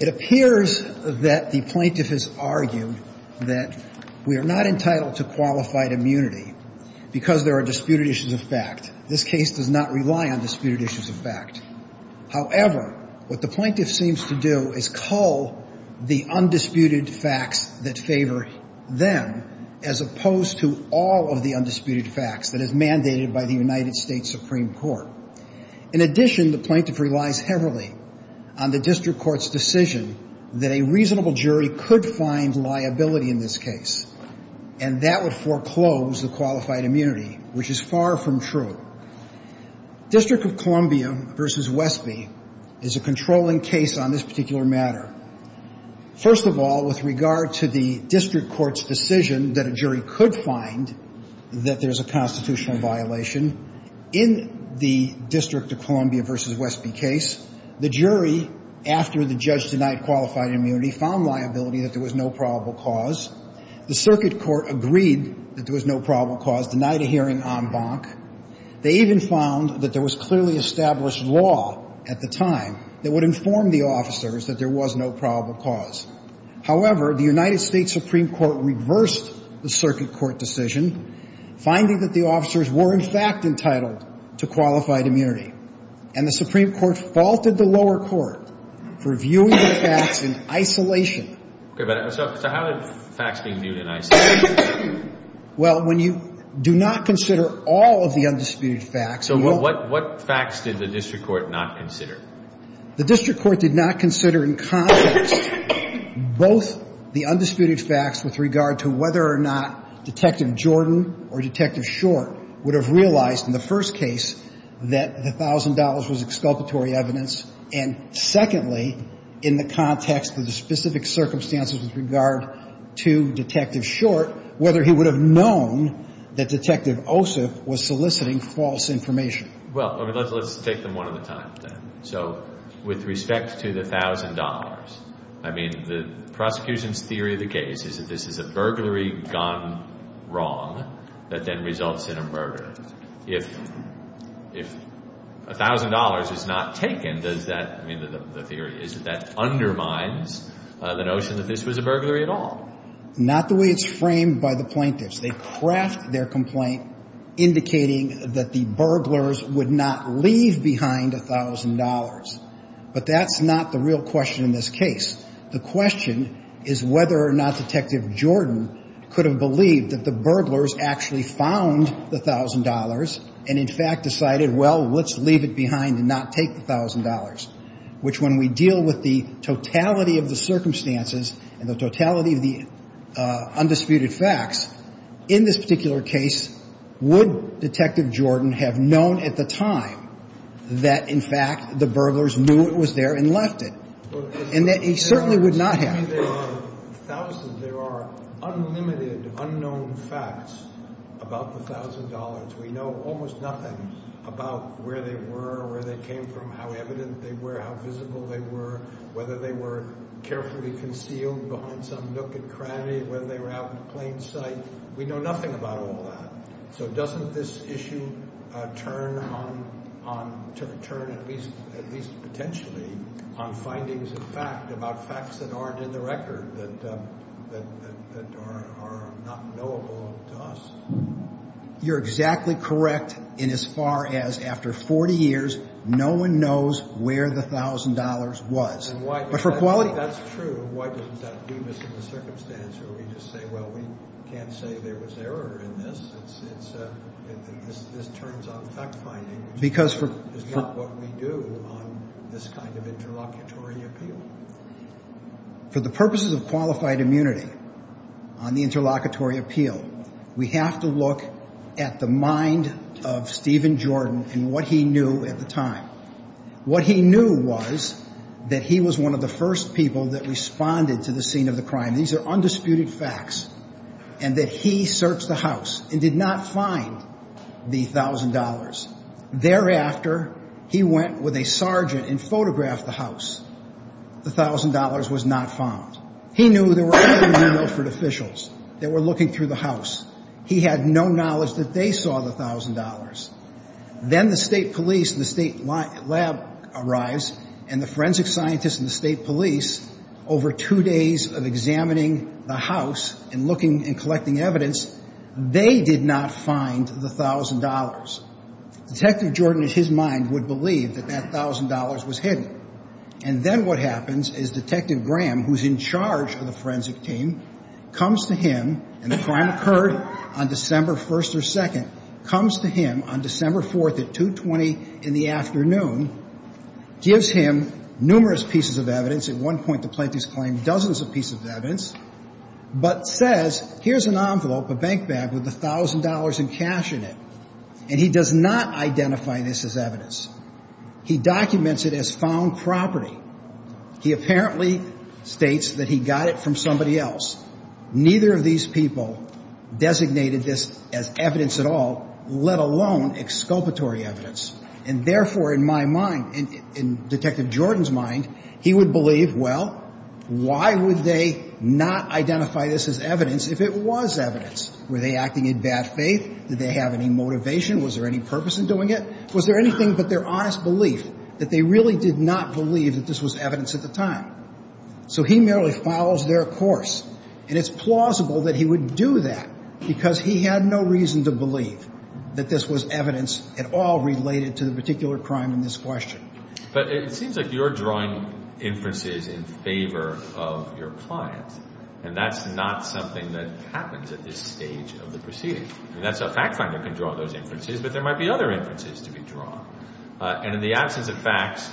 It appears that the plaintiff has argued that we are not entitled to qualified immunity because there are disputed issues of fact. This case does not rely on disputed issues of fact. However, what the plaintiff seems to do is cull the undisputed facts that favor them as opposed to all of the undisputed facts that is mandated by the United States Supreme Court. In addition, the plaintiff relies heavily on the district court's decision that a reasonable jury could find liability in this case, and that would foreclose the qualified immunity, which is far from true. District of Columbia v. Westby is a controlling case on this particular matter. First of all, with regard to the district court's decision that a jury could find that there's a constitutional violation, in the District of Columbia v. Westby case, the jury, after the judge denied qualified immunity, found liability that there was no probable cause. The circuit court agreed that there was no probable cause, denied a hearing en banc. They even found that there was clearly established law at the time that would inform the officers that there was no probable cause. However, the United States Supreme Court reversed the circuit court decision, finding that the officers were, in fact, entitled to qualified immunity. And the Supreme Court faulted the lower court for viewing the facts in isolation. Okay. So how did facts being viewed in isolation? Well, when you do not consider all of the undisputed facts... So what facts did the district court not consider? The district court did not consider in context both the undisputed facts with regard to whether or not Detective Jordan or Detective Short would have realized in the first case that the thousand dollars was exculpatory evidence, and secondly, in the context of the specific circumstances with regard to Detective Short, whether he would have known that Detective Osip was soliciting false information. Well, let's take them one at a time then. So with respect to the thousand dollars, I mean, the prosecution's theory of the case is that this is a burglary gone wrong that then results in a murder. If a thousand dollars is not taken, does that, I mean, the theory is that that undermines the notion that this was a burglary at all. Not the way it's framed by the plaintiffs. They craft their complaint indicating that the burglars would not leave behind a thousand dollars. But that's not the real question in this case. The question is whether or not Detective Jordan could have believed that the burglars actually found the thousand dollars and in fact decided, well, let's leave it behind and not take the thousand dollars, which when we deal with the totality of the undisputed facts, in this particular case, would Detective Jordan have known at the time that in fact the burglars knew it was there and left it? And that he certainly would not have. There are thousands, there are unlimited unknown facts about the thousand dollars. We know almost nothing about where they were, where they came from, how evident they were, how whether they were out in plain sight. We know nothing about all that. So doesn't this issue turn at least potentially on findings of fact about facts that aren't in the record that are not knowable to us? You're exactly correct in as far as after 40 years, no one knows where the thousand dollars was. That's true. Why doesn't that do this in the circumstance where we just say, well, we can't say there was error in this. This turns on fact finding, which is not what we do on this kind of interlocutory appeal. For the purposes of qualified immunity on the interlocutory appeal, we have to look at the mind of Stephen Jordan and what he knew at the time. What he knew was that he was one of the first people that responded to the scene of the crime. These are undisputed facts, and that he searched the house and did not find the thousand dollars. Thereafter, he went with a sergeant and photographed the house. The thousand dollars was not found. He knew there were other Milford officials that were looking through the house. He had no knowledge that they saw the thousand dollars. Then the state police and the state lab arrives, and the forensic scientists and the state police, over two days of examining the house and looking and collecting evidence, they did not find the thousand dollars. Detective Jordan, in his mind, would believe that that thousand dollars was hidden. And then what happens is Detective Graham, who's in charge of the forensic team, comes to him, and the crime occurred on December 1st or 2nd, comes to him on December 4th at 2.20 in the afternoon, gives him numerous pieces of evidence. At one point, the plaintiff's claimed dozens of pieces of evidence, but says, here's an envelope, a bank bag, with the thousand dollars and cash in it. And he does not identify this as evidence. He documents it as found property. He apparently states that he got it from somebody else. Neither of these people designated this as evidence at all, let alone exculpatory evidence. And therefore, in my mind, in Detective Jordan's mind, he would believe, well, why would they not identify this as evidence if it was evidence? Were they acting in bad faith? Did they have any motivation? Was there any purpose in doing it? Was there anything but their honest belief that they really did not believe that this was evidence at the time? So he merely follows their course. And it's plausible that he would do that because he had no reason to believe that this was evidence at all related to the particular crime in this question. But it seems like you're drawing inferences in favor of your client. And that's not something that happens at this stage of the proceeding. I mean, that's a fact finder can draw those inferences, but there might be other inferences to be drawn. And in the absence of facts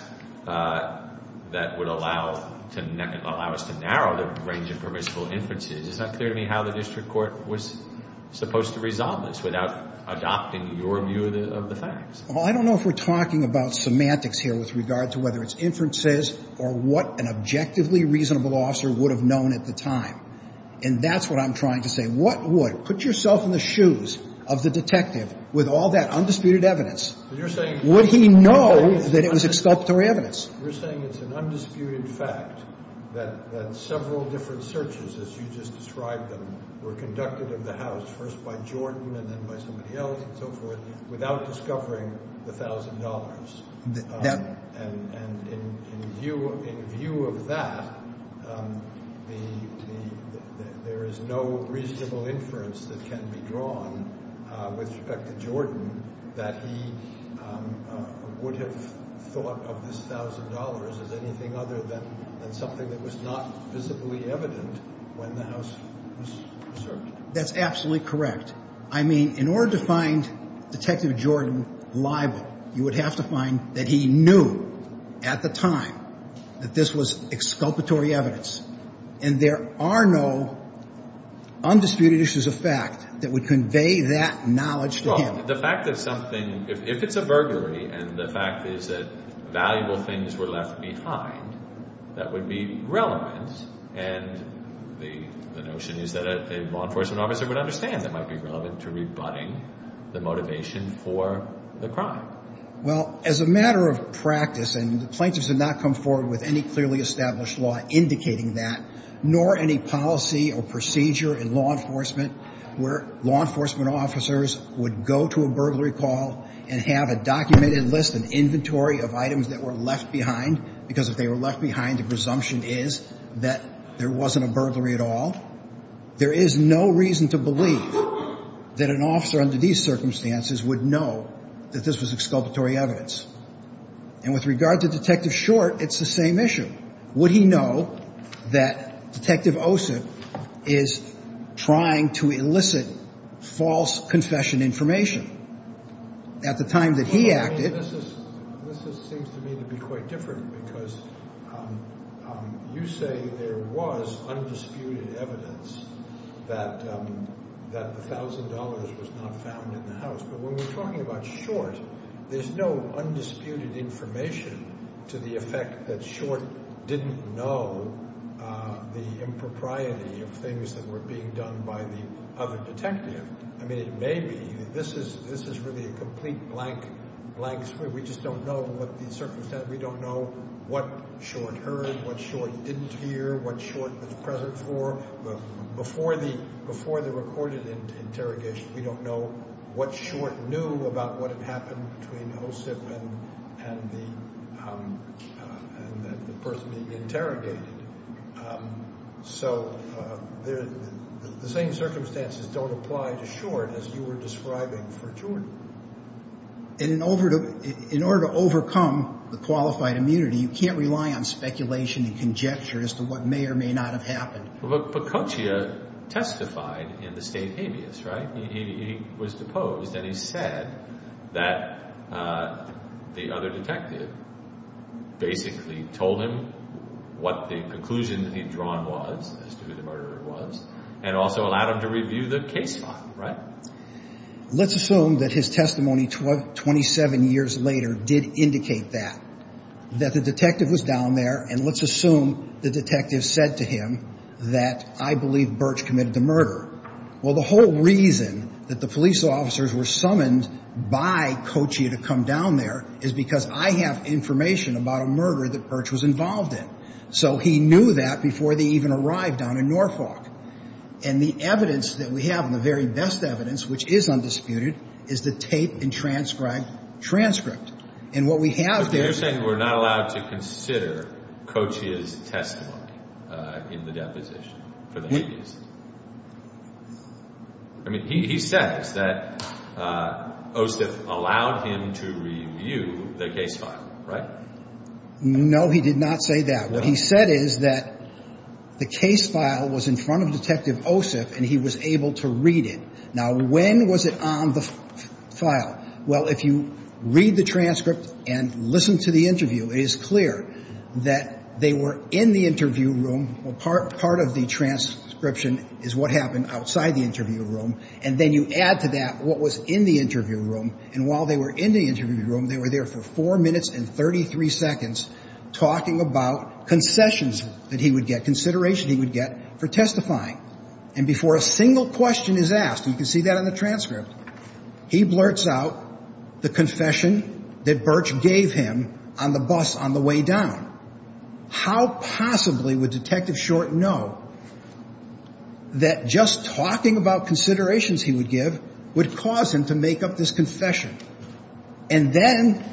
that would allow to allow us to narrow the range of permissible inferences, it's not clear to me how the district court was supposed to resolve this without adopting your view of the facts. Well, I don't know if we're talking about semantics here with regard to whether it's inferences or what an objectively reasonable officer would have known at the time. And that's what I'm trying to say. What would? Put yourself in the shoes of the detective with all that undisputed evidence. Would he know that it was exculpatory evidence? You're saying it's an undisputed fact that several different searches, as you just described them, were conducted of the house, first by Jordan and then by somebody else and so forth, without discovering the thousand dollars. And in view of that, there is no reasonable inference that can be drawn with respect to Jordan that he would have thought of this thousand dollars as anything other than something that was not physically evident when the house was searched. That's absolutely correct. I mean, in order to have to find that he knew at the time that this was exculpatory evidence and there are no undisputed issues of fact that would convey that knowledge to him. Well, the fact that something, if it's a burglary and the fact is that valuable things were left behind, that would be relevant. And the notion is that a law enforcement officer would understand that might be relevant to the crime. Well, as a matter of practice, and the plaintiffs have not come forward with any clearly established law indicating that, nor any policy or procedure in law enforcement where law enforcement officers would go to a burglary call and have a documented list, an inventory of items that were left behind, because if they were left behind, the presumption is that there wasn't a burglary at all. There is no reason to believe that an officer under these circumstances would know that this was exculpatory evidence. And with regard to Detective Short, it's the same issue. Would he know that Detective Osip is trying to elicit false confession information at the time that he acted? This seems to me to be quite different because you say there was undisputed evidence that the $1,000 was not found in the house. But when we're talking about Short, there's no undisputed information to the effect that Short didn't know the impropriety of things that were being done by the other detective. I mean, it may be. This is really a complete blank, blank screen. We just don't know what the circumstances, we don't know what Short heard, what Short didn't hear, what Short was present for. Before the recorded interrogation, we don't know what Short knew about what had happened between Osip and the person being interrogated. So the same circumstances don't apply to Short as you were describing for Jordan. And in order to overcome the qualified immunity, you can't rely on speculation and conjecture as to what may or may not have happened. But Pacoccia testified in the state habeas, right? He was deposed and he said that the other detective basically told him what the conclusion that he'd drawn was as to who the murderer was and also allowed him to review the case file, right? Let's assume that his testimony 27 years later did indicate that. That the detective was down there and let's assume the detective said to him that I believe Birch committed the murder. Well, the whole reason that the police officers were summoned by Pacoccia to come down there is because I have information about a murder that Birch was involved in. So he knew that before they even arrived down in Norfolk. And the evidence that we have and the very best evidence, which is undisputed, is the tape and transcribed transcript. And what we have there is... But you're saying we're not allowed to consider Pacoccia's testimony in the deposition for the habeas? I mean, he says that Osip allowed him to review the case file, right? No, he did not say that. What he said is that the case file was in front of Detective Osip and he was able to read it. Now, when was it on the file? Well, if you read the transcript and listen to the interview, it is clear that they were in the interview room. Well, part of the transcription is what happened outside the interview room. And then you add to that what was in the interview room. And while they were in the interview room, they were there for four minutes and 33 seconds talking about concessions that he would get, consideration he would get for testifying. And before a single question is asked, you can see that on the transcript, he blurts out the confession that Birch gave him on the bus on the way down. How possibly would Detective Short know that just talking about considerations he would give would cause him to confess? And then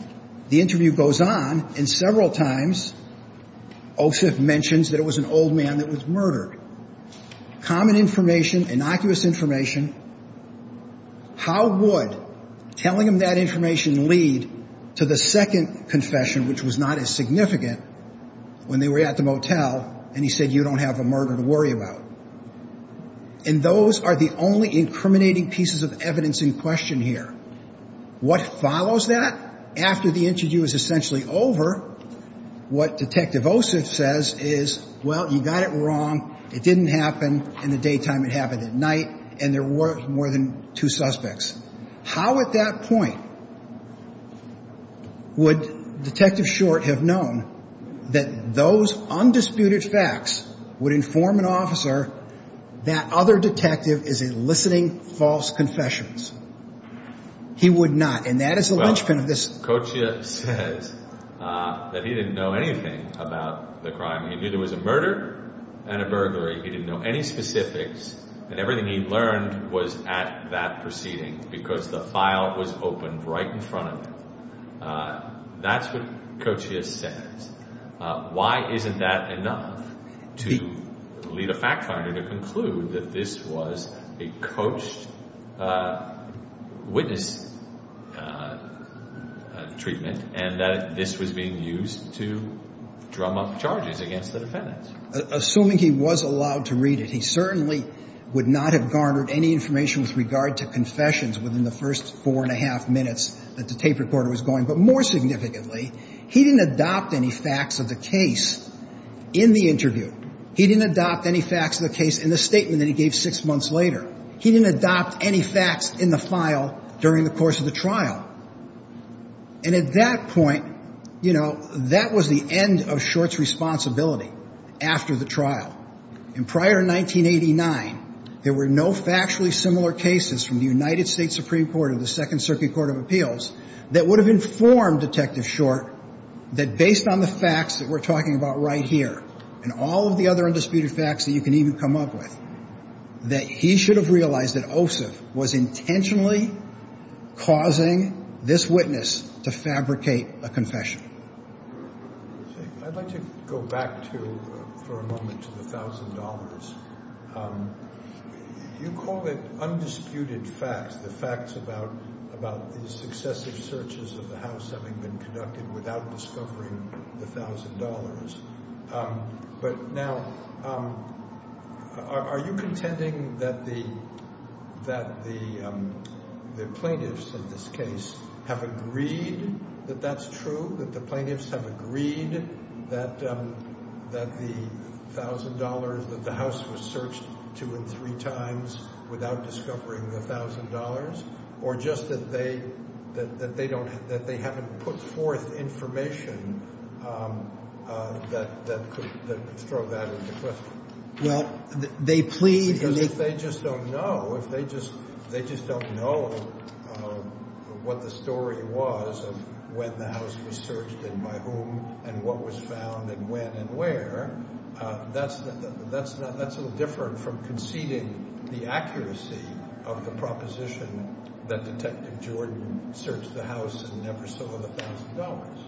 the interview goes on and several times Osip mentions that it was an old man that was murdered. Common information, innocuous information. How would telling him that information lead to the second confession, which was not as significant when they were at the motel and he said, you don't have a murder to worry about. And those are the only incriminating pieces of what follows that. After the interview is essentially over, what Detective Osip says is, well, you got it wrong, it didn't happen in the daytime, it happened at night, and there were more than two suspects. How at that point would Detective Short have known that those undisputed facts would inform an officer that other detective is eliciting false confessions? He would not. And that is the linchpin of this. Well, Kochia says that he didn't know anything about the crime. He knew there was a murder and a burglary. He didn't know any specifics and everything he learned was at that proceeding because the file was opened right in front of him. That's what Kochia says. Why isn't that enough to lead a fact finder to conclude that this was a coached witness treatment and that this was being used to drum up charges against the defendants? Assuming he was allowed to read it, he certainly would not have garnered any information with regard to confessions within the first four and a half minutes that the tape recorder was going. But more significantly, he didn't adopt any facts of the case in the interview. He didn't adopt any facts in the file during the course of the trial. And at that point, you know, that was the end of Short's responsibility after the trial. And prior to 1989, there were no factually similar cases from the United States Supreme Court or the Second Circuit Court of Appeals that would have informed Detective Short that based on the facts that we're talking about right here and all of the other he should have realized that Ossoff was intentionally causing this witness to fabricate a confession. I'd like to go back to for a moment to the thousand dollars. You call it undisputed facts, the facts about these successive searches of the house having been conducted without discovering the thousand dollars. But now, are you contending that the plaintiffs in this case have agreed that that's true, that the plaintiffs have agreed that the thousand dollars that the house was searched two and three times without discovering the thousand dollars, or just that they haven't put forth information that could throw that into question? Well, they plead... Because if they just don't know, if they just don't know what the story was of when the house was searched and by whom and what was found and when and where, that's a little different from the accuracy of the proposition that Detective Jordan searched the house and never saw the thousand dollars.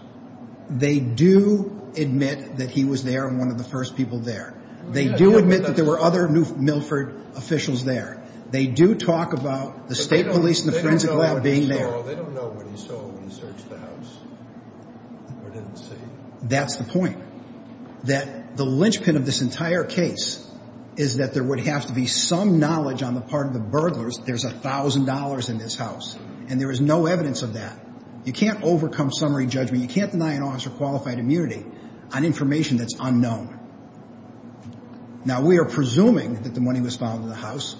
They do admit that he was there and one of the first people there. They do admit that there were other Milford officials there. They do talk about the state police and the forensic lab being there. They don't know what he saw when he searched the house or didn't see. That's the point. That the linchpin of this entire case is that there would have to be some knowledge on the part of the burglars there's a thousand dollars in this house and there is no evidence of that. You can't overcome summary judgment. You can't deny an officer qualified immunity on information that's unknown. Now we are presuming that the money was found in the house.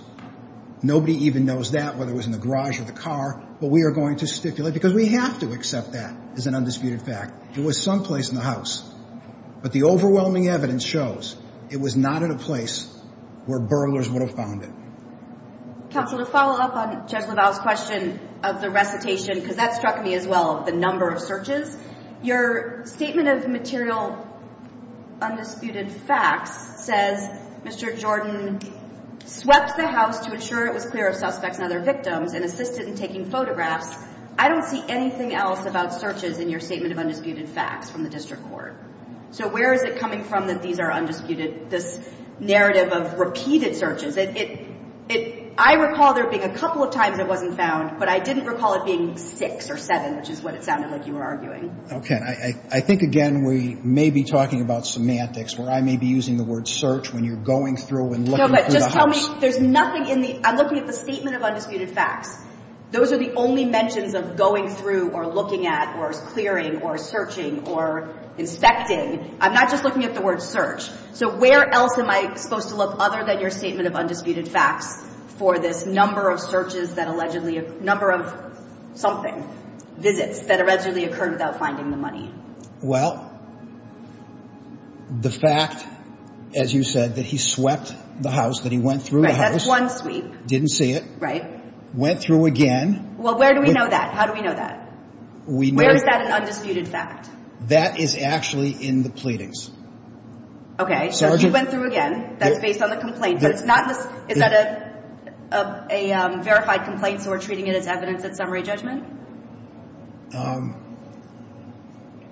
Nobody even knows that, whether it was in the garage or the car, but we are going to stipulate because we have to accept that as an undisputed fact. It was someplace in the house, but the Counsel, to follow up on Judge LaValle's question of the recitation, because that struck me as well, the number of searches. Your statement of material undisputed facts says Mr. Jordan swept the house to ensure it was clear of suspects and other victims and assisted in taking photographs. I don't see anything else about searches in your statement of undisputed facts from the district court. So where is it coming from that these are I recall there being a couple of times it wasn't found, but I didn't recall it being six or seven, which is what it sounded like you were arguing. Okay. I think, again, we may be talking about semantics where I may be using the word search when you're going through and looking through the house. There's nothing in the I'm looking at the statement of undisputed facts. Those are the only mentions of going through or looking at or clearing or searching or inspecting. I'm not just looking at the word search. So where else am I supposed to look other than your statement of for this number of searches that allegedly a number of something visits that allegedly occurred without finding the money? Well, the fact, as you said, that he swept the house, that he went through the house. That's one sweep. Didn't see it. Right. Went through again. Well, where do we know that? How do we know that? Where is that an undisputed fact? That is actually in the pleadings. Okay. So you went through again. That's based on the of a verified complaint. So we're treating it as evidence that summary judgment.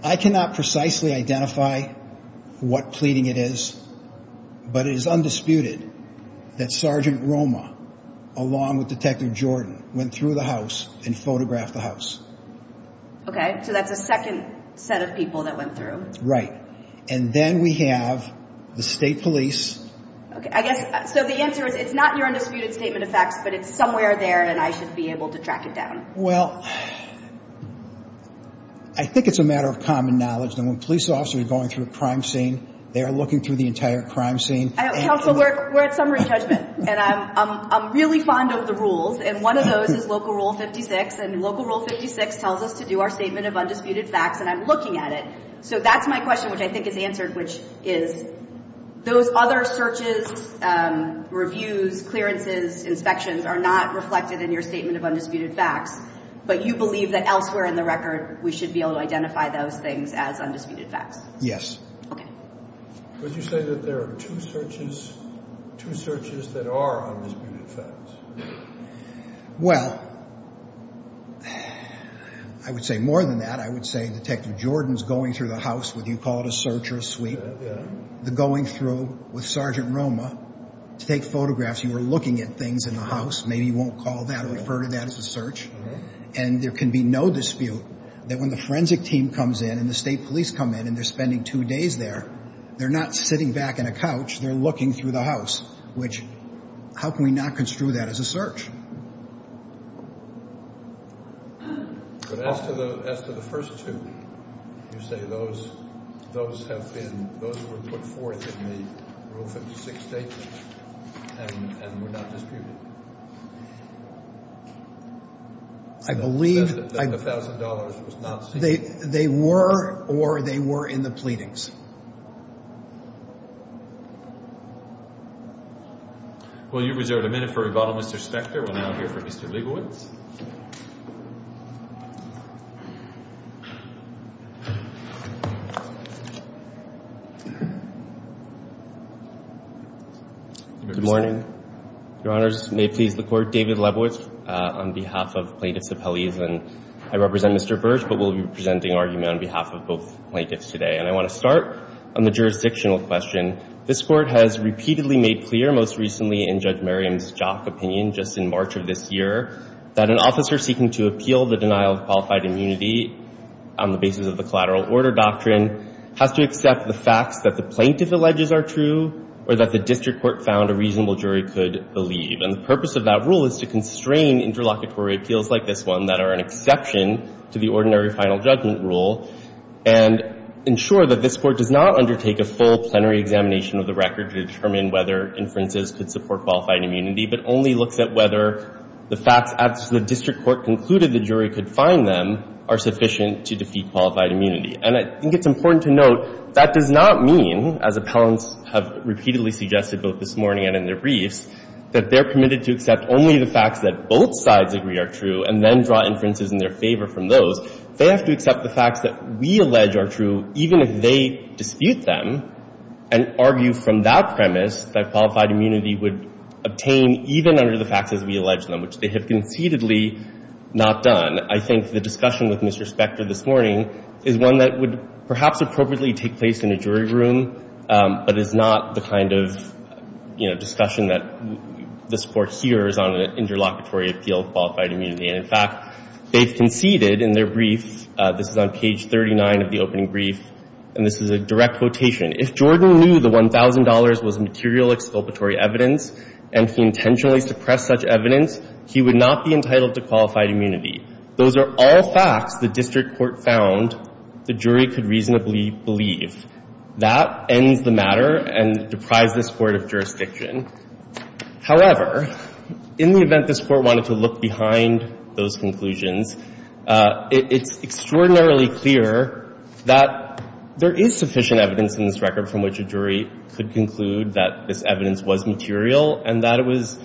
I cannot precisely identify what pleading it is, but it is undisputed that Sergeant Roma, along with Detective Jordan, went through the house and photographed the house. Okay. So that's a second set of people that went through. Right. And then we have the state police. Okay. I guess so the answer is it's not your undisputed statement of facts, but it's somewhere there and I should be able to track it down. Well, I think it's a matter of common knowledge that when police officers are going through a crime scene, they are looking through the entire crime scene. Counsel, we're at summary judgment and I'm really fond of the rules. And one of those is Local Rule 56 and Local Rule 56 tells us to do our statement of undisputed facts and I'm is answered, which is those other searches, reviews, clearances, inspections are not reflected in your statement of undisputed facts, but you believe that elsewhere in the record, we should be able to identify those things as undisputed facts. Yes. Okay. Would you say that there are two searches, two searches that are undisputed facts? Well, I would say more than that. I would say Detective Jordan's going through the house whether you call it a search or a sweep, the going through with Sergeant Roma to take photographs, you are looking at things in the house, maybe you won't call that or refer to that as a search. And there can be no dispute that when the forensic team comes in and the state police come in and they're spending two days there, they're not sitting back in a couch, they're looking through the house, which how can we not construe that as a search? But as to the first two, you say those have been, those were put forth in the Rule 56 statement and were not disputed? I believe... That the $1,000 was not seen... They were or they were in the pleadings. Will you reserve a minute for rebuttal, Mr. Spector? We'll now hear from Mr. Lebowitz. Good morning, Your Honors. May it please the Court, David Lebowitz on behalf of Plaintiffs Appellees. And I represent Mr. Birch, but we'll be presenting argument on behalf of both plaintiffs today. And I want to start on the jurisdictional question. This Court has repeatedly made clear, most recently in Judge Merriam's jock opinion just in March of this year, that an officer seeking to appeal the denial of qualified immunity on the basis of the collateral order doctrine has to accept the facts that the plaintiff alleges are true or that the district court found a reasonable jury could believe. And the purpose of that rule is to constrain interlocutory appeals like this one that are an exception to the ordinary final judgment rule and ensure that this Court does not undertake a full plenary examination of the record to determine whether inferences could support qualified immunity, but only looks at whether the facts as the district court concluded the jury could find them are sufficient to defeat qualified immunity. And I think it's important to note that does not mean, as appellants have repeatedly suggested both this morning and in their briefs, that they're permitted to accept only the facts that both sides agree are true and then draw inferences in their favor from those. They have to accept the facts that we allege are true even if they dispute them and argue from that premise that qualified immunity would obtain even under the facts as we allege them, which they have concededly not done. I think the discussion with Mr. Spector this morning is one that would perhaps appropriately take place in a jury room, but is not the kind of, you know, discussion that this Court hears on an interlocutory appeal of qualified immunity. And in fact, they've conceded in their brief, this is on page 39 of the opening brief, and this is a direct quotation, if Jordan knew the $1,000 was material exculpatory evidence and he intentionally suppressed such evidence, he would not be entitled to qualified immunity. Those are all facts the district court found the jury could reasonably believe. That ends the matter and deprives this Court of jurisdiction. However, in the event this Court wanted to look behind those conclusions, it's extraordinarily clear that there is sufficient evidence in this record from which a jury could conclude that this evidence was material and that it was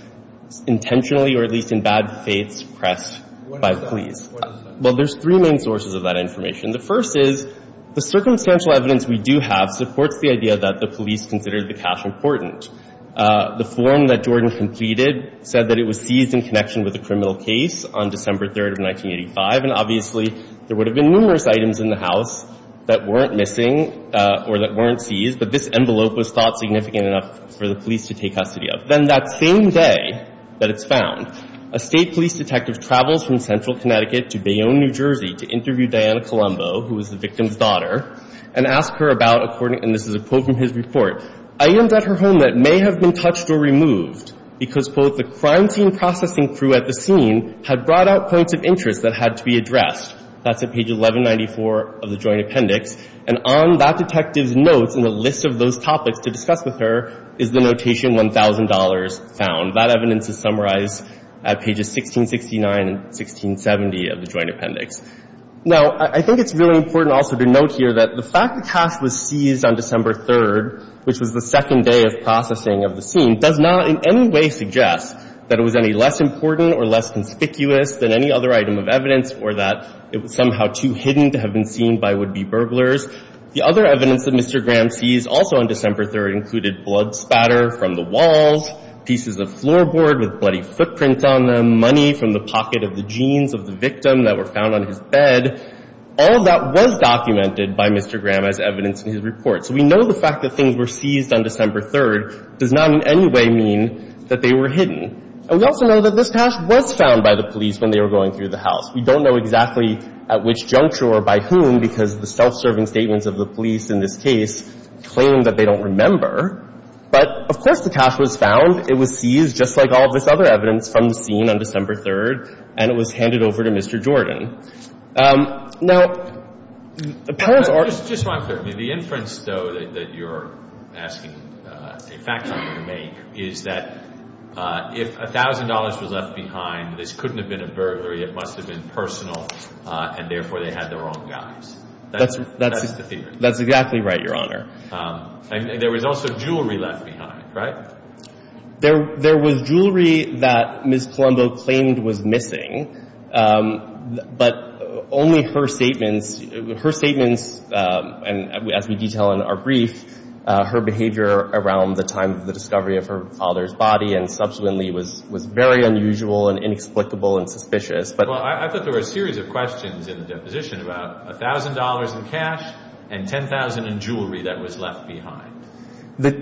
intentionally or at least in bad faiths suppressed by the police. Well, there's three main sources of that information. The first is, the circumstantial evidence we do have supports the idea that the police considered the cash important. The form that Jordan completed said that it was seized in connection with a criminal case on December 3rd of 1985. And obviously, there would have been numerous items in the house that weren't missing or that weren't seized, but this envelope was thought significant enough for the police to take custody of. Then that same day that it's found, a state police detective travels from Central Connecticut to Bayonne, New Jersey, to interview Diana Colombo, who was the victim's daughter, and ask her about, according to the report, items at her home that may have been touched or removed because, quote, the crime scene processing crew at the scene had brought out points of interest that had to be addressed. That's at page 1194 of the Joint Appendix. And on that detective's notes and the list of those topics to discuss with her is the notation $1,000 found. That evidence is summarized at pages 1669 and 1670 of the Joint Appendix. Now, I think it's really important also to note here that the fact the cash was seized on December 3rd, which was the second day of processing of the scene, does not in any way suggest that it was any less important or less conspicuous than any other item of evidence or that it was somehow too hidden to have been seen by would-be burglars. The other evidence that Mr. Graham seized also on December 3rd included blood spatter from the walls, pieces of floorboard with bloody footprints on them, money from the pocket of the jeans of the victim that were found on his bed. All of that was documented by Mr. Graham as evidence in his report. So we know the fact that things were seized on December 3rd does not in any way mean that they were hidden. And we also know that this cash was found by the police when they were going through the house. We don't know exactly at which juncture or by whom because the self-serving statements of the police in this case claim that they don't remember. But of course the cash was found. It was seized just like all of this other evidence from the scene on December 3rd, and it was handed over to Mr. Jordan. Now, the parents are – Just one thing. The inference, though, that you're asking a fact checker to make is that if $1,000 was left behind, this couldn't have been a burglary. It must have been personal, and therefore they had the wrong guys. That's the theory. That's exactly right, Your Honor. And there was also jewelry left behind, right? There was jewelry that Ms. Colombo claimed was missing, but only her statements – her statements, as we detail in our brief, her behavior around the time of the discovery of her father's body and subsequently was very unusual and inexplicable and suspicious. Well, I thought there were a series of questions in the deposition about $1,000 in cash and $10,000 in jewelry that was left behind.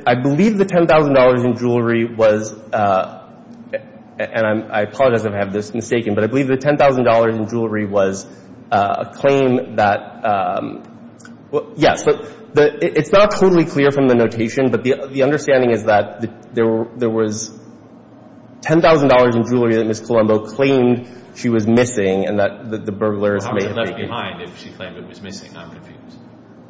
I believe the $10,000 in jewelry was – and I apologize if I have this mistaken, but I believe the $10,000 in jewelry was a claim that – yes, but it's not totally clear from the notation, but the understanding is that there was $10,000 in jewelry that Ms. Colombo claimed she was missing and that the burglars may have taken. How much was left behind if she claimed it was missing? I'm confused.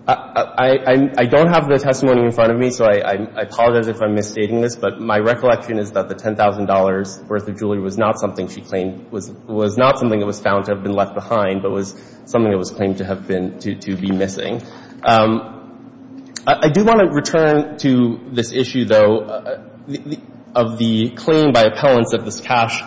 I don't have the testimony in front of me, so I apologize if I'm misstating this, but my recollection is that the $10,000 worth of jewelry was not something she claimed was – was not something that was found to have been left behind, but was something that was claimed to have been – to be missing. I do want to return to this issue, though, of the claim by appellants that this cash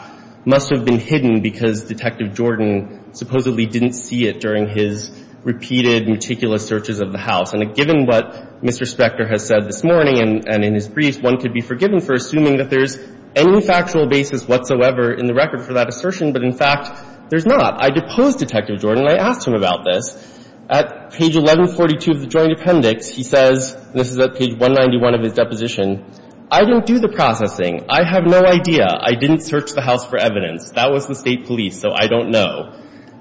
must have been hidden because Detective Jordan supposedly didn't see it during his repeated, meticulous searches of the house. And given what Mr. Spector has said this morning and in his brief, one could be forgiven for assuming that there's any factual basis whatsoever in the record for that assertion, but in fact, there's not. I deposed Detective Jordan. I asked him about this. At page 1142 of the joint appendix, he says – this is at page 191 of his deposition – I didn't do the processing. I have no idea. I didn't search the house for evidence. That was the state police, so I don't know.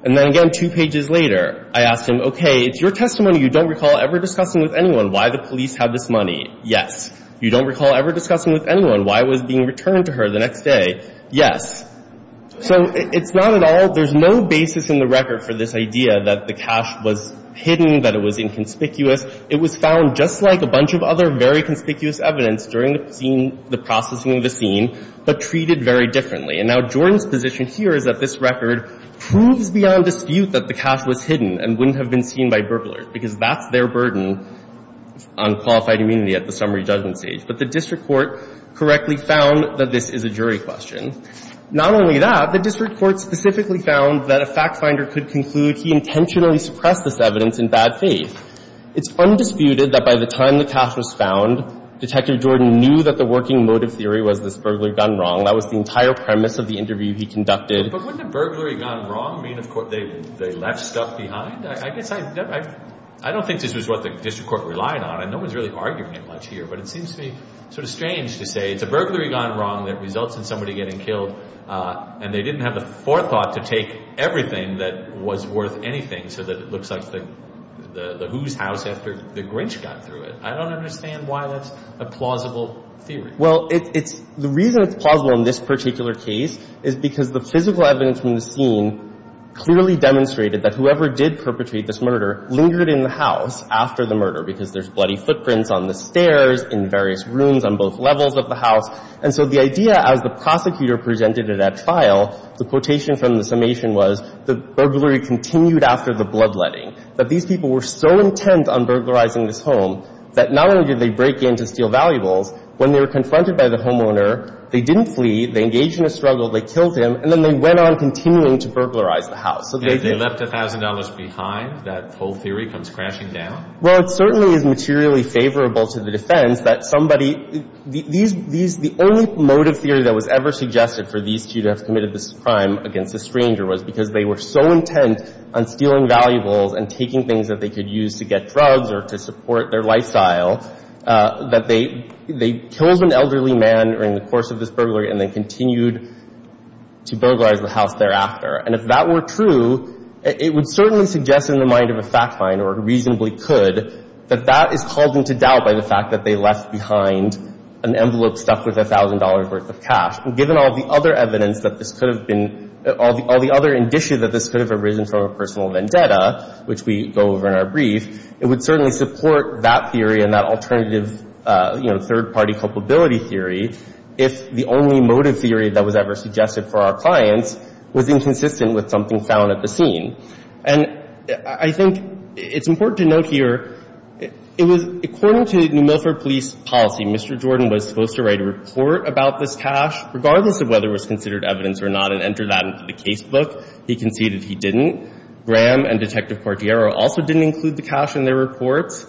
And then again, two pages later, I asked him, okay, it's your testimony. You don't recall ever discussing with anyone why the police had this money. Yes. You don't recall ever discussing with anyone why it was being returned to her the next day. Yes. So it's not at all – there's no basis in the record for this idea that the cash was hidden, that it was inconspicuous. It was found just like a bunch of other very conspicuous evidence during the scene – the processing of the scene, but treated very differently. And now, Jordan's position here is that this record proves beyond dispute that the cash was hidden and wouldn't have been seen by burglars, because that's their burden on qualified immunity at the summary judgment stage. But the district court correctly found that this is a jury question. Not only that, the district court specifically found that a factfinder could conclude he intentionally suppressed this evidence in bad faith. It's undisputed that by the time the cash was found, Detective Jordan knew that the working motive theory was this burglary gone wrong. That was the entire premise of the interview he conducted. But wouldn't a burglary gone wrong mean they left stuff behind? I guess I – I don't think this was what the district court relied on, and no one's really arguing it much here, but it seems to me sort of strange to say it's a burglary gone wrong that results in somebody getting killed, and they didn't have the forethought to take everything that was worth anything so that it looks like the who's house after the Grinch got through it. I don't understand why that's a plausible theory. Well, it's – the reason it's plausible in this particular case is because the physical evidence from the scene clearly demonstrated that whoever did perpetrate this murder lingered in the house after the murder, because there's bloody footprints on the stairs, in various rooms on both levels of the house. And so the idea, as the prosecutor presented it at trial, the quotation from the summation was the burglary continued after the bloodletting, that these people were so intent on burglarizing this home that not only did they break in to steal valuables, when they were confronted by the homeowner, they didn't flee, they engaged in a struggle, they killed him, and then they went on continuing to burglarize the house. So they – And if they left $1,000 behind, that whole theory comes crashing down? Well, it certainly is materially favorable to the defense that somebody – these – the only motive theory that was ever suggested for these two to have committed this crime against a stranger was because they were so intent on stealing valuables and taking things that they could use to get drugs or to support their lifestyle that they killed an elderly man during the course of this burglary and then continued to burglarize the house thereafter. And if that were true, it would certainly suggest in the mind of a fact finder, or reasonably could, that that is called into doubt by the fact that they left behind an envelope stuck with $1,000 worth of cash. And given all the other evidence that this could have been – all the other indicia that this could have arisen from a personal vendetta, which we go over in our brief, it would certainly support that theory and that alternative, you know, third-party culpability theory if the only motive theory that was ever suggested for our clients was inconsistent with something found at the scene. And I think it's important to note here, it was – according to New Milford Police policy, Mr. Jordan was supposed to write a report about this cash, regardless of whether it was considered evidence or not, and enter that into the casebook. He conceded he didn't. Graham and Detective Cordiero also didn't include the cash in their reports.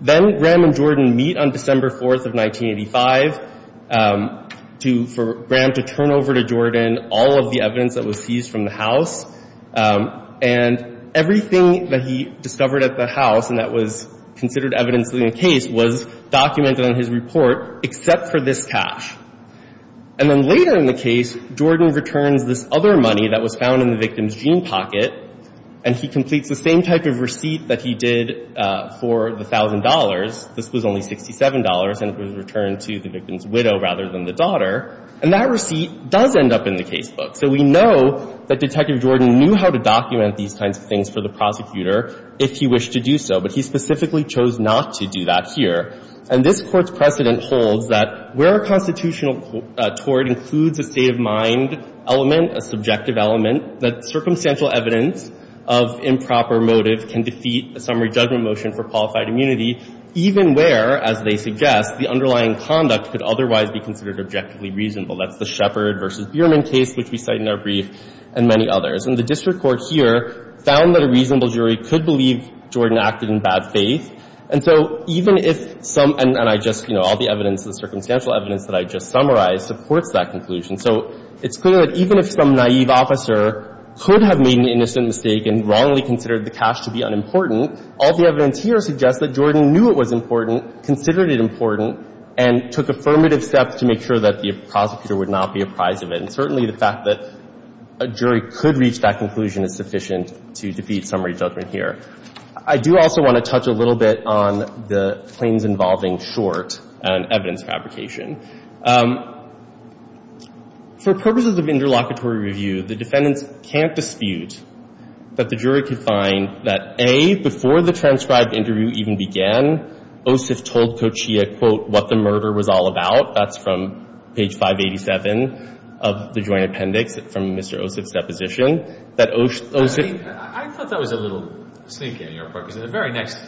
Then Graham and Jordan meet on December 4th of 1985 to – for Graham to turn over to Jordan all of the evidence that was seized from the house. And everything that he discovered at the house and that was considered evidence in the case was documented on his report, except for this cash. And then later in the case, Jordan returns this other money that was found in the victim's jean pocket, and he completes the same type of receipt that he did for the thousand dollars. This was only $67, and it was returned to the victim's widow rather than the daughter. And that receipt does end up in the casebook. So we know that Detective Jordan knew how to document these kinds of things for the prosecutor if he wished to do so, but he specifically chose not to do that here. And this Court's precedent holds that where a constitutional tort includes a state of mind element, a subjective element, that circumstantial evidence of improper motive can defeat a summary judgment motion for qualified immunity, even where, as they suggest, the underlying conduct could otherwise be considered objectively reasonable. That's the Sheppard v. Bierman case, which we cite in our brief, and many others. And the district court here found that a reasonable jury could believe Jordan acted in bad faith. And so even if some – and I just – you know, all the evidence, the circumstantial evidence that I just summarized supports that conclusion. So it's clear that even if some naive officer could have made an innocent mistake and wrongly considered the cash to be unimportant, all the evidence here suggests that Jordan knew it was important, considered it important, and took affirmative steps to make sure that the prosecutor would not be apprised of it. And certainly, the fact that a jury could reach that conclusion is sufficient to defeat summary judgment here. I do also want to touch a little bit on the claims involving short and evidence fabrication. For purposes of interlocutory review, the defendants can't dispute that the jury could find that, A, before the transcribed interview even began, Ossoff told Kochia, quote, what the murder was all about. That's from page 587 of the joint appendix from Mr. Ossoff's deposition, that Ossoff I thought that was a little sneaky on your part, because in the very next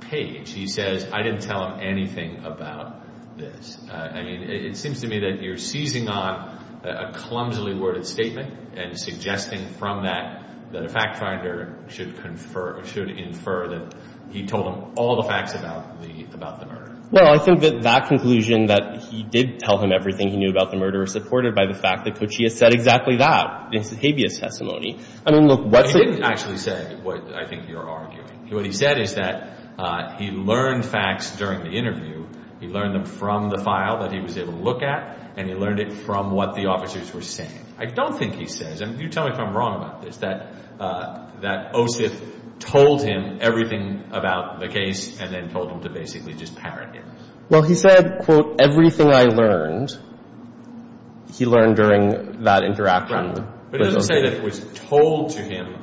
page, he says, I didn't tell him anything about this. I mean, it seems to me that you're seizing on a clumsily worded statement and suggesting from that that a fact finder should confer – should infer that he told him all the facts about the – about the murder. Well, I think that that conclusion that he did tell him everything he knew about the murder is supported by the fact that Kochia said exactly that in his habeas testimony. I mean, look, what's – He didn't actually say what I think you're arguing. What he said is that he learned facts during the interview. He learned them from the file that he was able to look at, and he learned it from what the officers were saying. I don't think he says – and you tell me if I'm wrong about this – that – that Ossoff told him everything about the case and then told him to basically just parrot him. Well, he said, quote, everything I learned, he learned during that interaction. But he doesn't say that it was told to him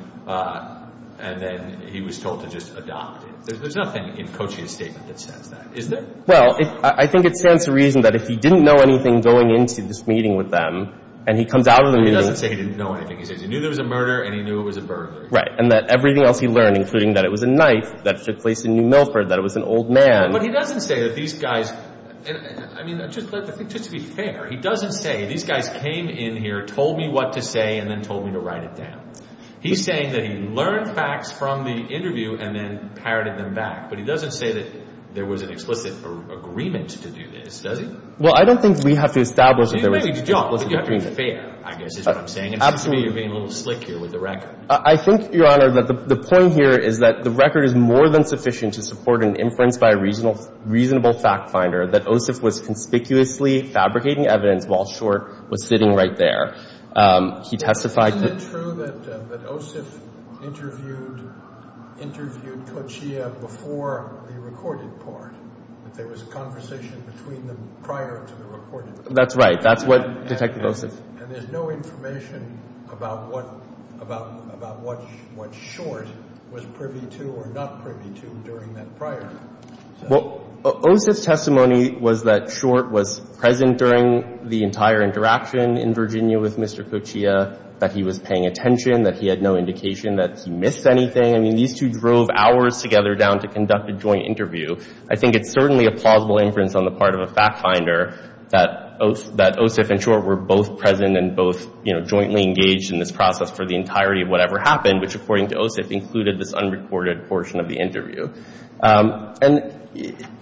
and then he was told to just adopt it. There's nothing in Kochia's statement that says that, is there? Well, I think it stands to reason that if he didn't know anything going into this meeting with them and he comes out of the meeting – But he doesn't say he didn't know anything. He says he knew there was a murder and he knew it was a murder. Right, and that everything else he learned, including that it was a knife that took place in New Milford, that it was an old man. But he doesn't say that these guys – I mean, just to be fair, he doesn't say these guys came in here, told me what to say, and then told me to write it down. He's saying that he learned facts from the interview and then parroted them back. But he doesn't say that there was an explicit agreement to do this, does he? Well, I don't think we have to establish that there was an explicit agreement. You're making a joke. I think you're being fair, I guess, is what I'm saying. Absolutely. It seems to me you're being a little slick here with the record. I think, Your Honor, that the point here is that the record is more than sufficient to support an inference by a reasonable fact finder that Ossoff was conspicuously fabricating evidence while Short was sitting right there. He testified – Isn't it true that Ossoff interviewed Kochia before the recorded part? That there was a conversation between them prior to the recorded part? That's right. That's what Detective Ossoff – And there's no information about what Short was privy to or not privy to during that prior. Well, Ossoff's testimony was that Short was present during the entire interaction in Virginia with Mr. Kochia, that he was paying attention, that he had no indication that he missed anything. I mean, these two drove hours together down to conduct a joint interview. I think it's certainly a plausible inference on the part of a fact finder that Ossoff and Short were both present and both jointly engaged in this process for the entirety of whatever happened, which, according to Ossoff, included this unrecorded portion of the interview. And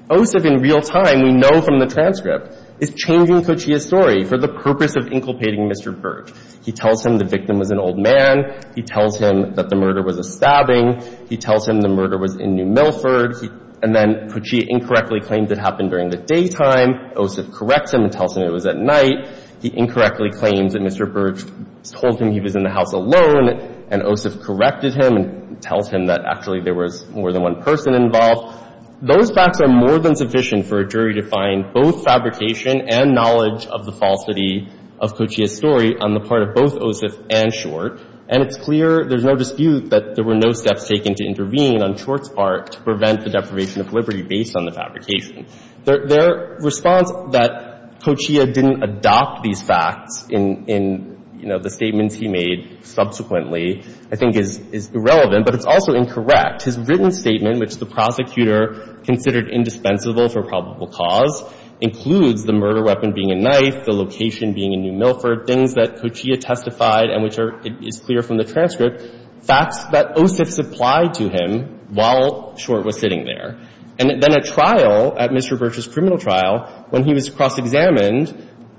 Ossoff, in real time, we know from the transcript, is changing Kochia's story for the purpose of inculpating Mr. Burge. He tells him the victim was an old man. He tells him that the murder was a stabbing. He tells him the murder was in New Milford. And then Kochia incorrectly claims it happened during the daytime. Ossoff corrects him and tells him it was at night. He incorrectly claims that Mr. Burge told him he was in the house alone. And Ossoff corrected him and tells him that actually there was more than one person involved. Those facts are more than sufficient for a jury to find both fabrication and knowledge of the falsity of Kochia's story on the part of both Ossoff and Short. And it's clear, there's no dispute, that there were no steps taken to intervene on Short's part to prevent the deprivation of liberty based on the fabrication. Their response that Kochia didn't adopt these facts in, you know, the statements he made subsequently, I think, is irrelevant, but it's also incorrect. His written statement, which the prosecutor considered indispensable for probable cause, includes the murder weapon being a knife, the location being in New Milford, things that Kochia testified and which are clear from the transcript, facts that Ossoff supplied to him while Short was sitting there. And then at trial, at Mr. Burge's criminal trial, when he was cross-examined,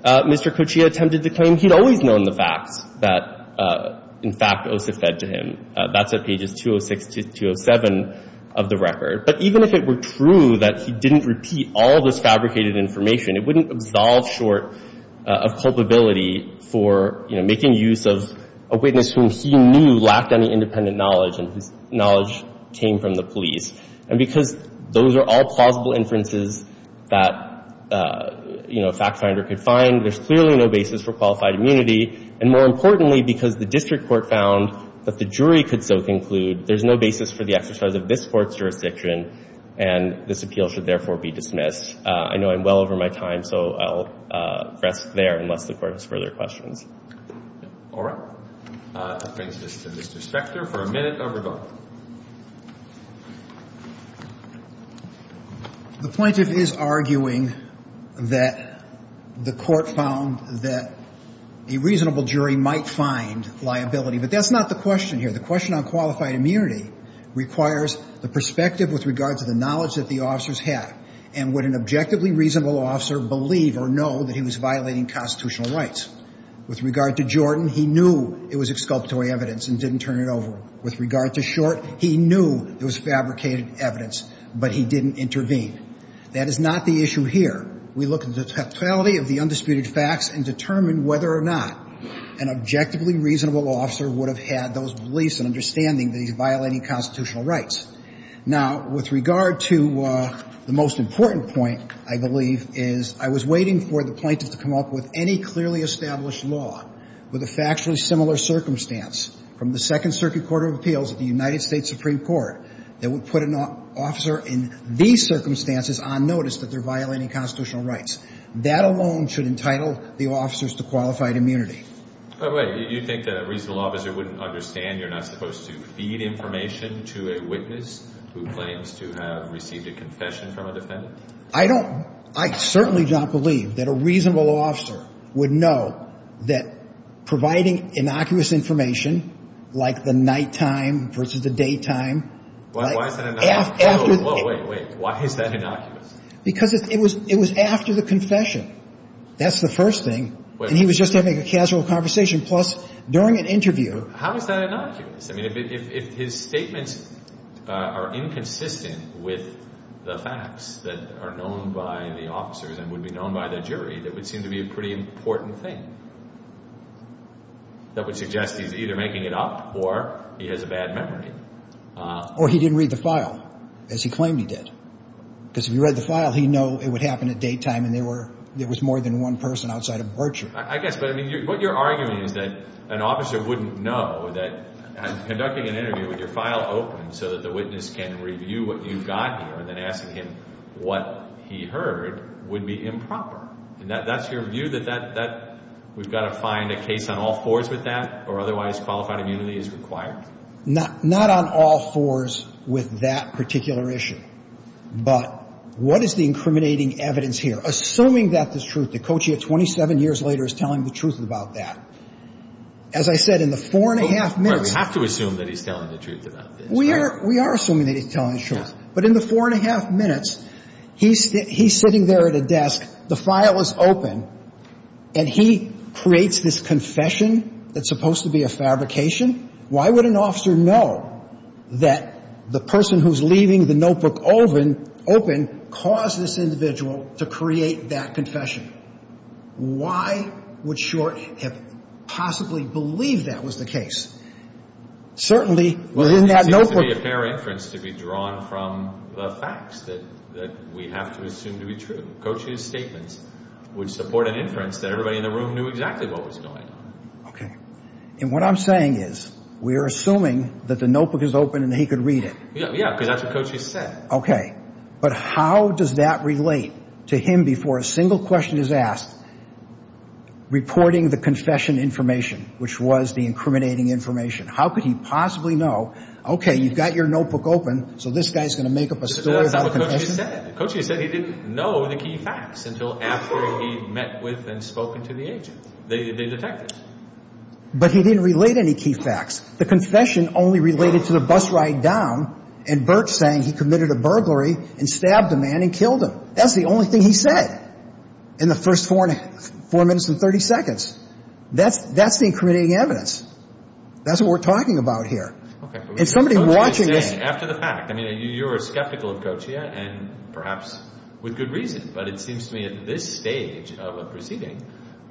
Mr. Kochia attempted to claim he'd always known the facts that, in fact, Ossoff said to him. That's at pages 206 to 207 of the record. But even if it were true that he didn't repeat all this fabricated information, it wouldn't absolve Short of culpability for, you know, making use of a witness whom he knew lacked any independent knowledge and whose knowledge came from the police. And because those are all plausible inferences that, you know, a fact finder could find, there's clearly no basis for qualified immunity. And more importantly, because the district court found that the jury could so conclude, there's no basis for the exercise of this Court's jurisdiction, and this appeal should therefore be dismissed. I know I'm well over my time, so I'll rest there unless the Court has further questions. All right. That brings us to Mr. Spector for a minute of rebuttal. The plaintiff is arguing that the Court found that a reasonable jury might find liability, but that's not the question here. The question on qualified immunity requires the perspective with regard to the knowledge that the officers had and would an objectively reasonable officer believe or know that he was violating constitutional rights. With regard to Jordan, he knew it was exculpatory evidence and didn't turn it over. With regard to Short, he knew it was fabricated evidence, but he didn't intervene. That is not the issue here. We look at the totality of the undisputed facts and determine whether or not an objectively reasonable officer would have had those beliefs and understanding that he's violating constitutional rights. Now, with regard to the most important point, I believe, is I was waiting for the plaintiff to come up with any clearly established law with a factually similar circumstance from the Second Circuit Court of Appeals of the United States Supreme Court that would put an officer in these circumstances on notice that they're violating constitutional rights. That alone should entitle the officers to qualified immunity. By the way, you think that a reasonable officer wouldn't understand you're not supposed to feed information to a witness who claims to have received a confession from a defendant? I don't. I certainly do not believe that a reasonable officer would know that providing innocuous information like the nighttime versus the daytime. Why is that innocuous? Wait, wait. Why is that innocuous? Because it was after the confession. That's the first thing. He was just having a casual conversation. Plus, during an interview. How is that innocuous? I mean, if his statements are inconsistent with the facts that are known by the officers and would be known by the jury, that would seem to be a pretty important thing. That would suggest he's either making it up or he has a bad memory. Or he didn't read the file, as he claimed he did. Because if he read the file, he'd know it would happen at daytime and there was more than one person outside of virtue. I guess. But I mean, what you're arguing is that an officer wouldn't know that conducting an interview with your file open so that the witness can review what you've got here and then asking him what he heard would be improper. That's your view? We've got to find a case on all fours with that? Or otherwise, qualified immunity is required? Not on all fours with that particular issue. But what is the incriminating evidence here? Assuming that this is truth, that Cochia, 27 years later, is telling the truth about that. As I said, in the four and a half minutes. We have to assume that he's telling the truth about this. We are assuming that he's telling the truth. But in the four and a half minutes, he's sitting there at a desk. The file is open. And he creates this confession that's supposed to be a fabrication. Why would an officer know that the person who's leaving the notebook open caused this individual to create that confession? Why would Short have possibly believed that was the case? Certainly, well, isn't that notebook? It seems to be a fair inference to be drawn from the facts that we have to assume to be true. Cochia's statements would support an inference that everybody in the room knew exactly what was going on. Okay. And what I'm saying is, we're assuming that the notebook is open and he could read it. Yeah, yeah, because that's what Cochia said. Okay. But how does that relate to him before a single question is asked, reporting the confession information, which was the incriminating information? How could he possibly know? Okay, you've got your notebook open. So this guy's going to make up a story. That's not what Cochia said. Cochia said he didn't know the key facts until after he met with and spoken to the agent. They detected. But he didn't relate any key facts. The confession only related to the bus ride down and Bert saying he committed a burglary and stabbed a man and killed him. That's the only thing he said in the first four minutes and 30 seconds. That's the incriminating evidence. That's what we're talking about here. Okay. And somebody watching this... After the fact. I mean, you're skeptical of Cochia and perhaps with good reason, but it seems to me at this stage of a proceeding,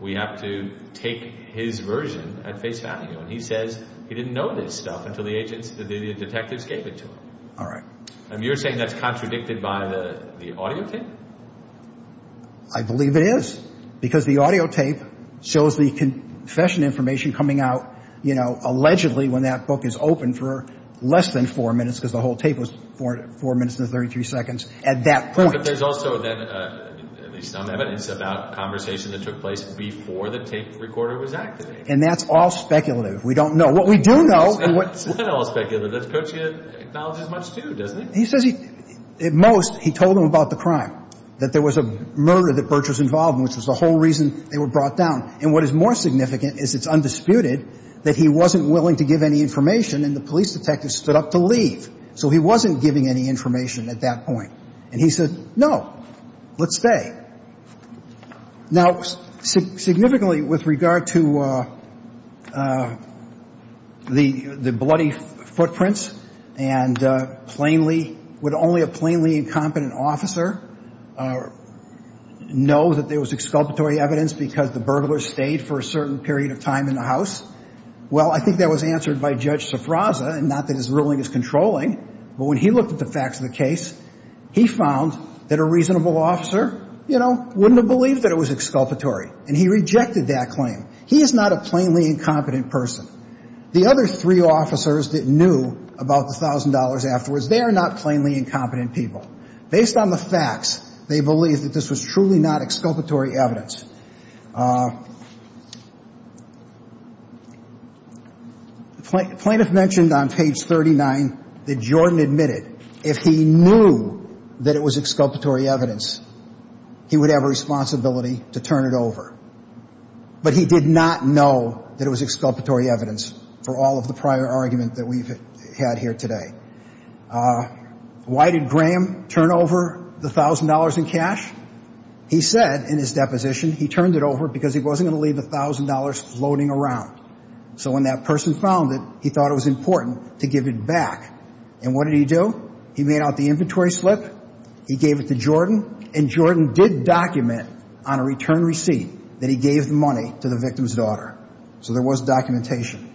we have to take his version at face value. And he says he didn't know this stuff until the agents, the detectives gave it to him. All right. And you're saying that's contradicted by the audio tape? I believe it is. Because the audio tape shows the confession information coming out, you know, allegedly when that book is open for less than four minutes, because the whole tape was four minutes and 33 seconds at that point. But there's also then at least some evidence about conversation that took place before the tape recorder was activated. And that's all speculative. We don't know. What we do know... It's not all speculative. Cochia acknowledges much too, doesn't he? He says he, at most, he told him about the crime, that there was a murder that Bert was involved in, which was the whole reason they were brought down. And what is more significant is it's undisputed that he wasn't willing to give any information and the police detective stood up to leave. So he wasn't giving any information at that point. And he said, no, let's stay. Now, significantly with regard to the bloody footprints and plainly, would only a plainly incompetent officer know that there was exculpatory evidence because the burglar stayed for a certain period of time in the house? Well, I think that was answered by Judge Sifraza, and not that his ruling is controlling. But when he looked at the facts of the case, he found that a reasonable officer, you know, wouldn't have believed that it was exculpatory. And he rejected that claim. He is not a plainly incompetent person. The other three officers that knew about the $1,000 afterwards, they are not plainly incompetent people. Based on the facts, they believe that this was truly not exculpatory evidence. Plaintiff mentioned on page 39 that Jordan admitted if he knew that it was exculpatory evidence, he would have a responsibility to turn it over. But he did not know that it was exculpatory evidence for all of the prior argument that we've had here today. Uh, why did Graham turn over the $1,000 in cash? He said in his deposition, he turned it over because he wasn't going to leave the $1,000 floating around. So when that person found it, he thought it was important to give it back. And what did he do? He made out the inventory slip. He gave it to Jordan. And Jordan did document on a return receipt that he gave the money to the victim's daughter. So there was documentation.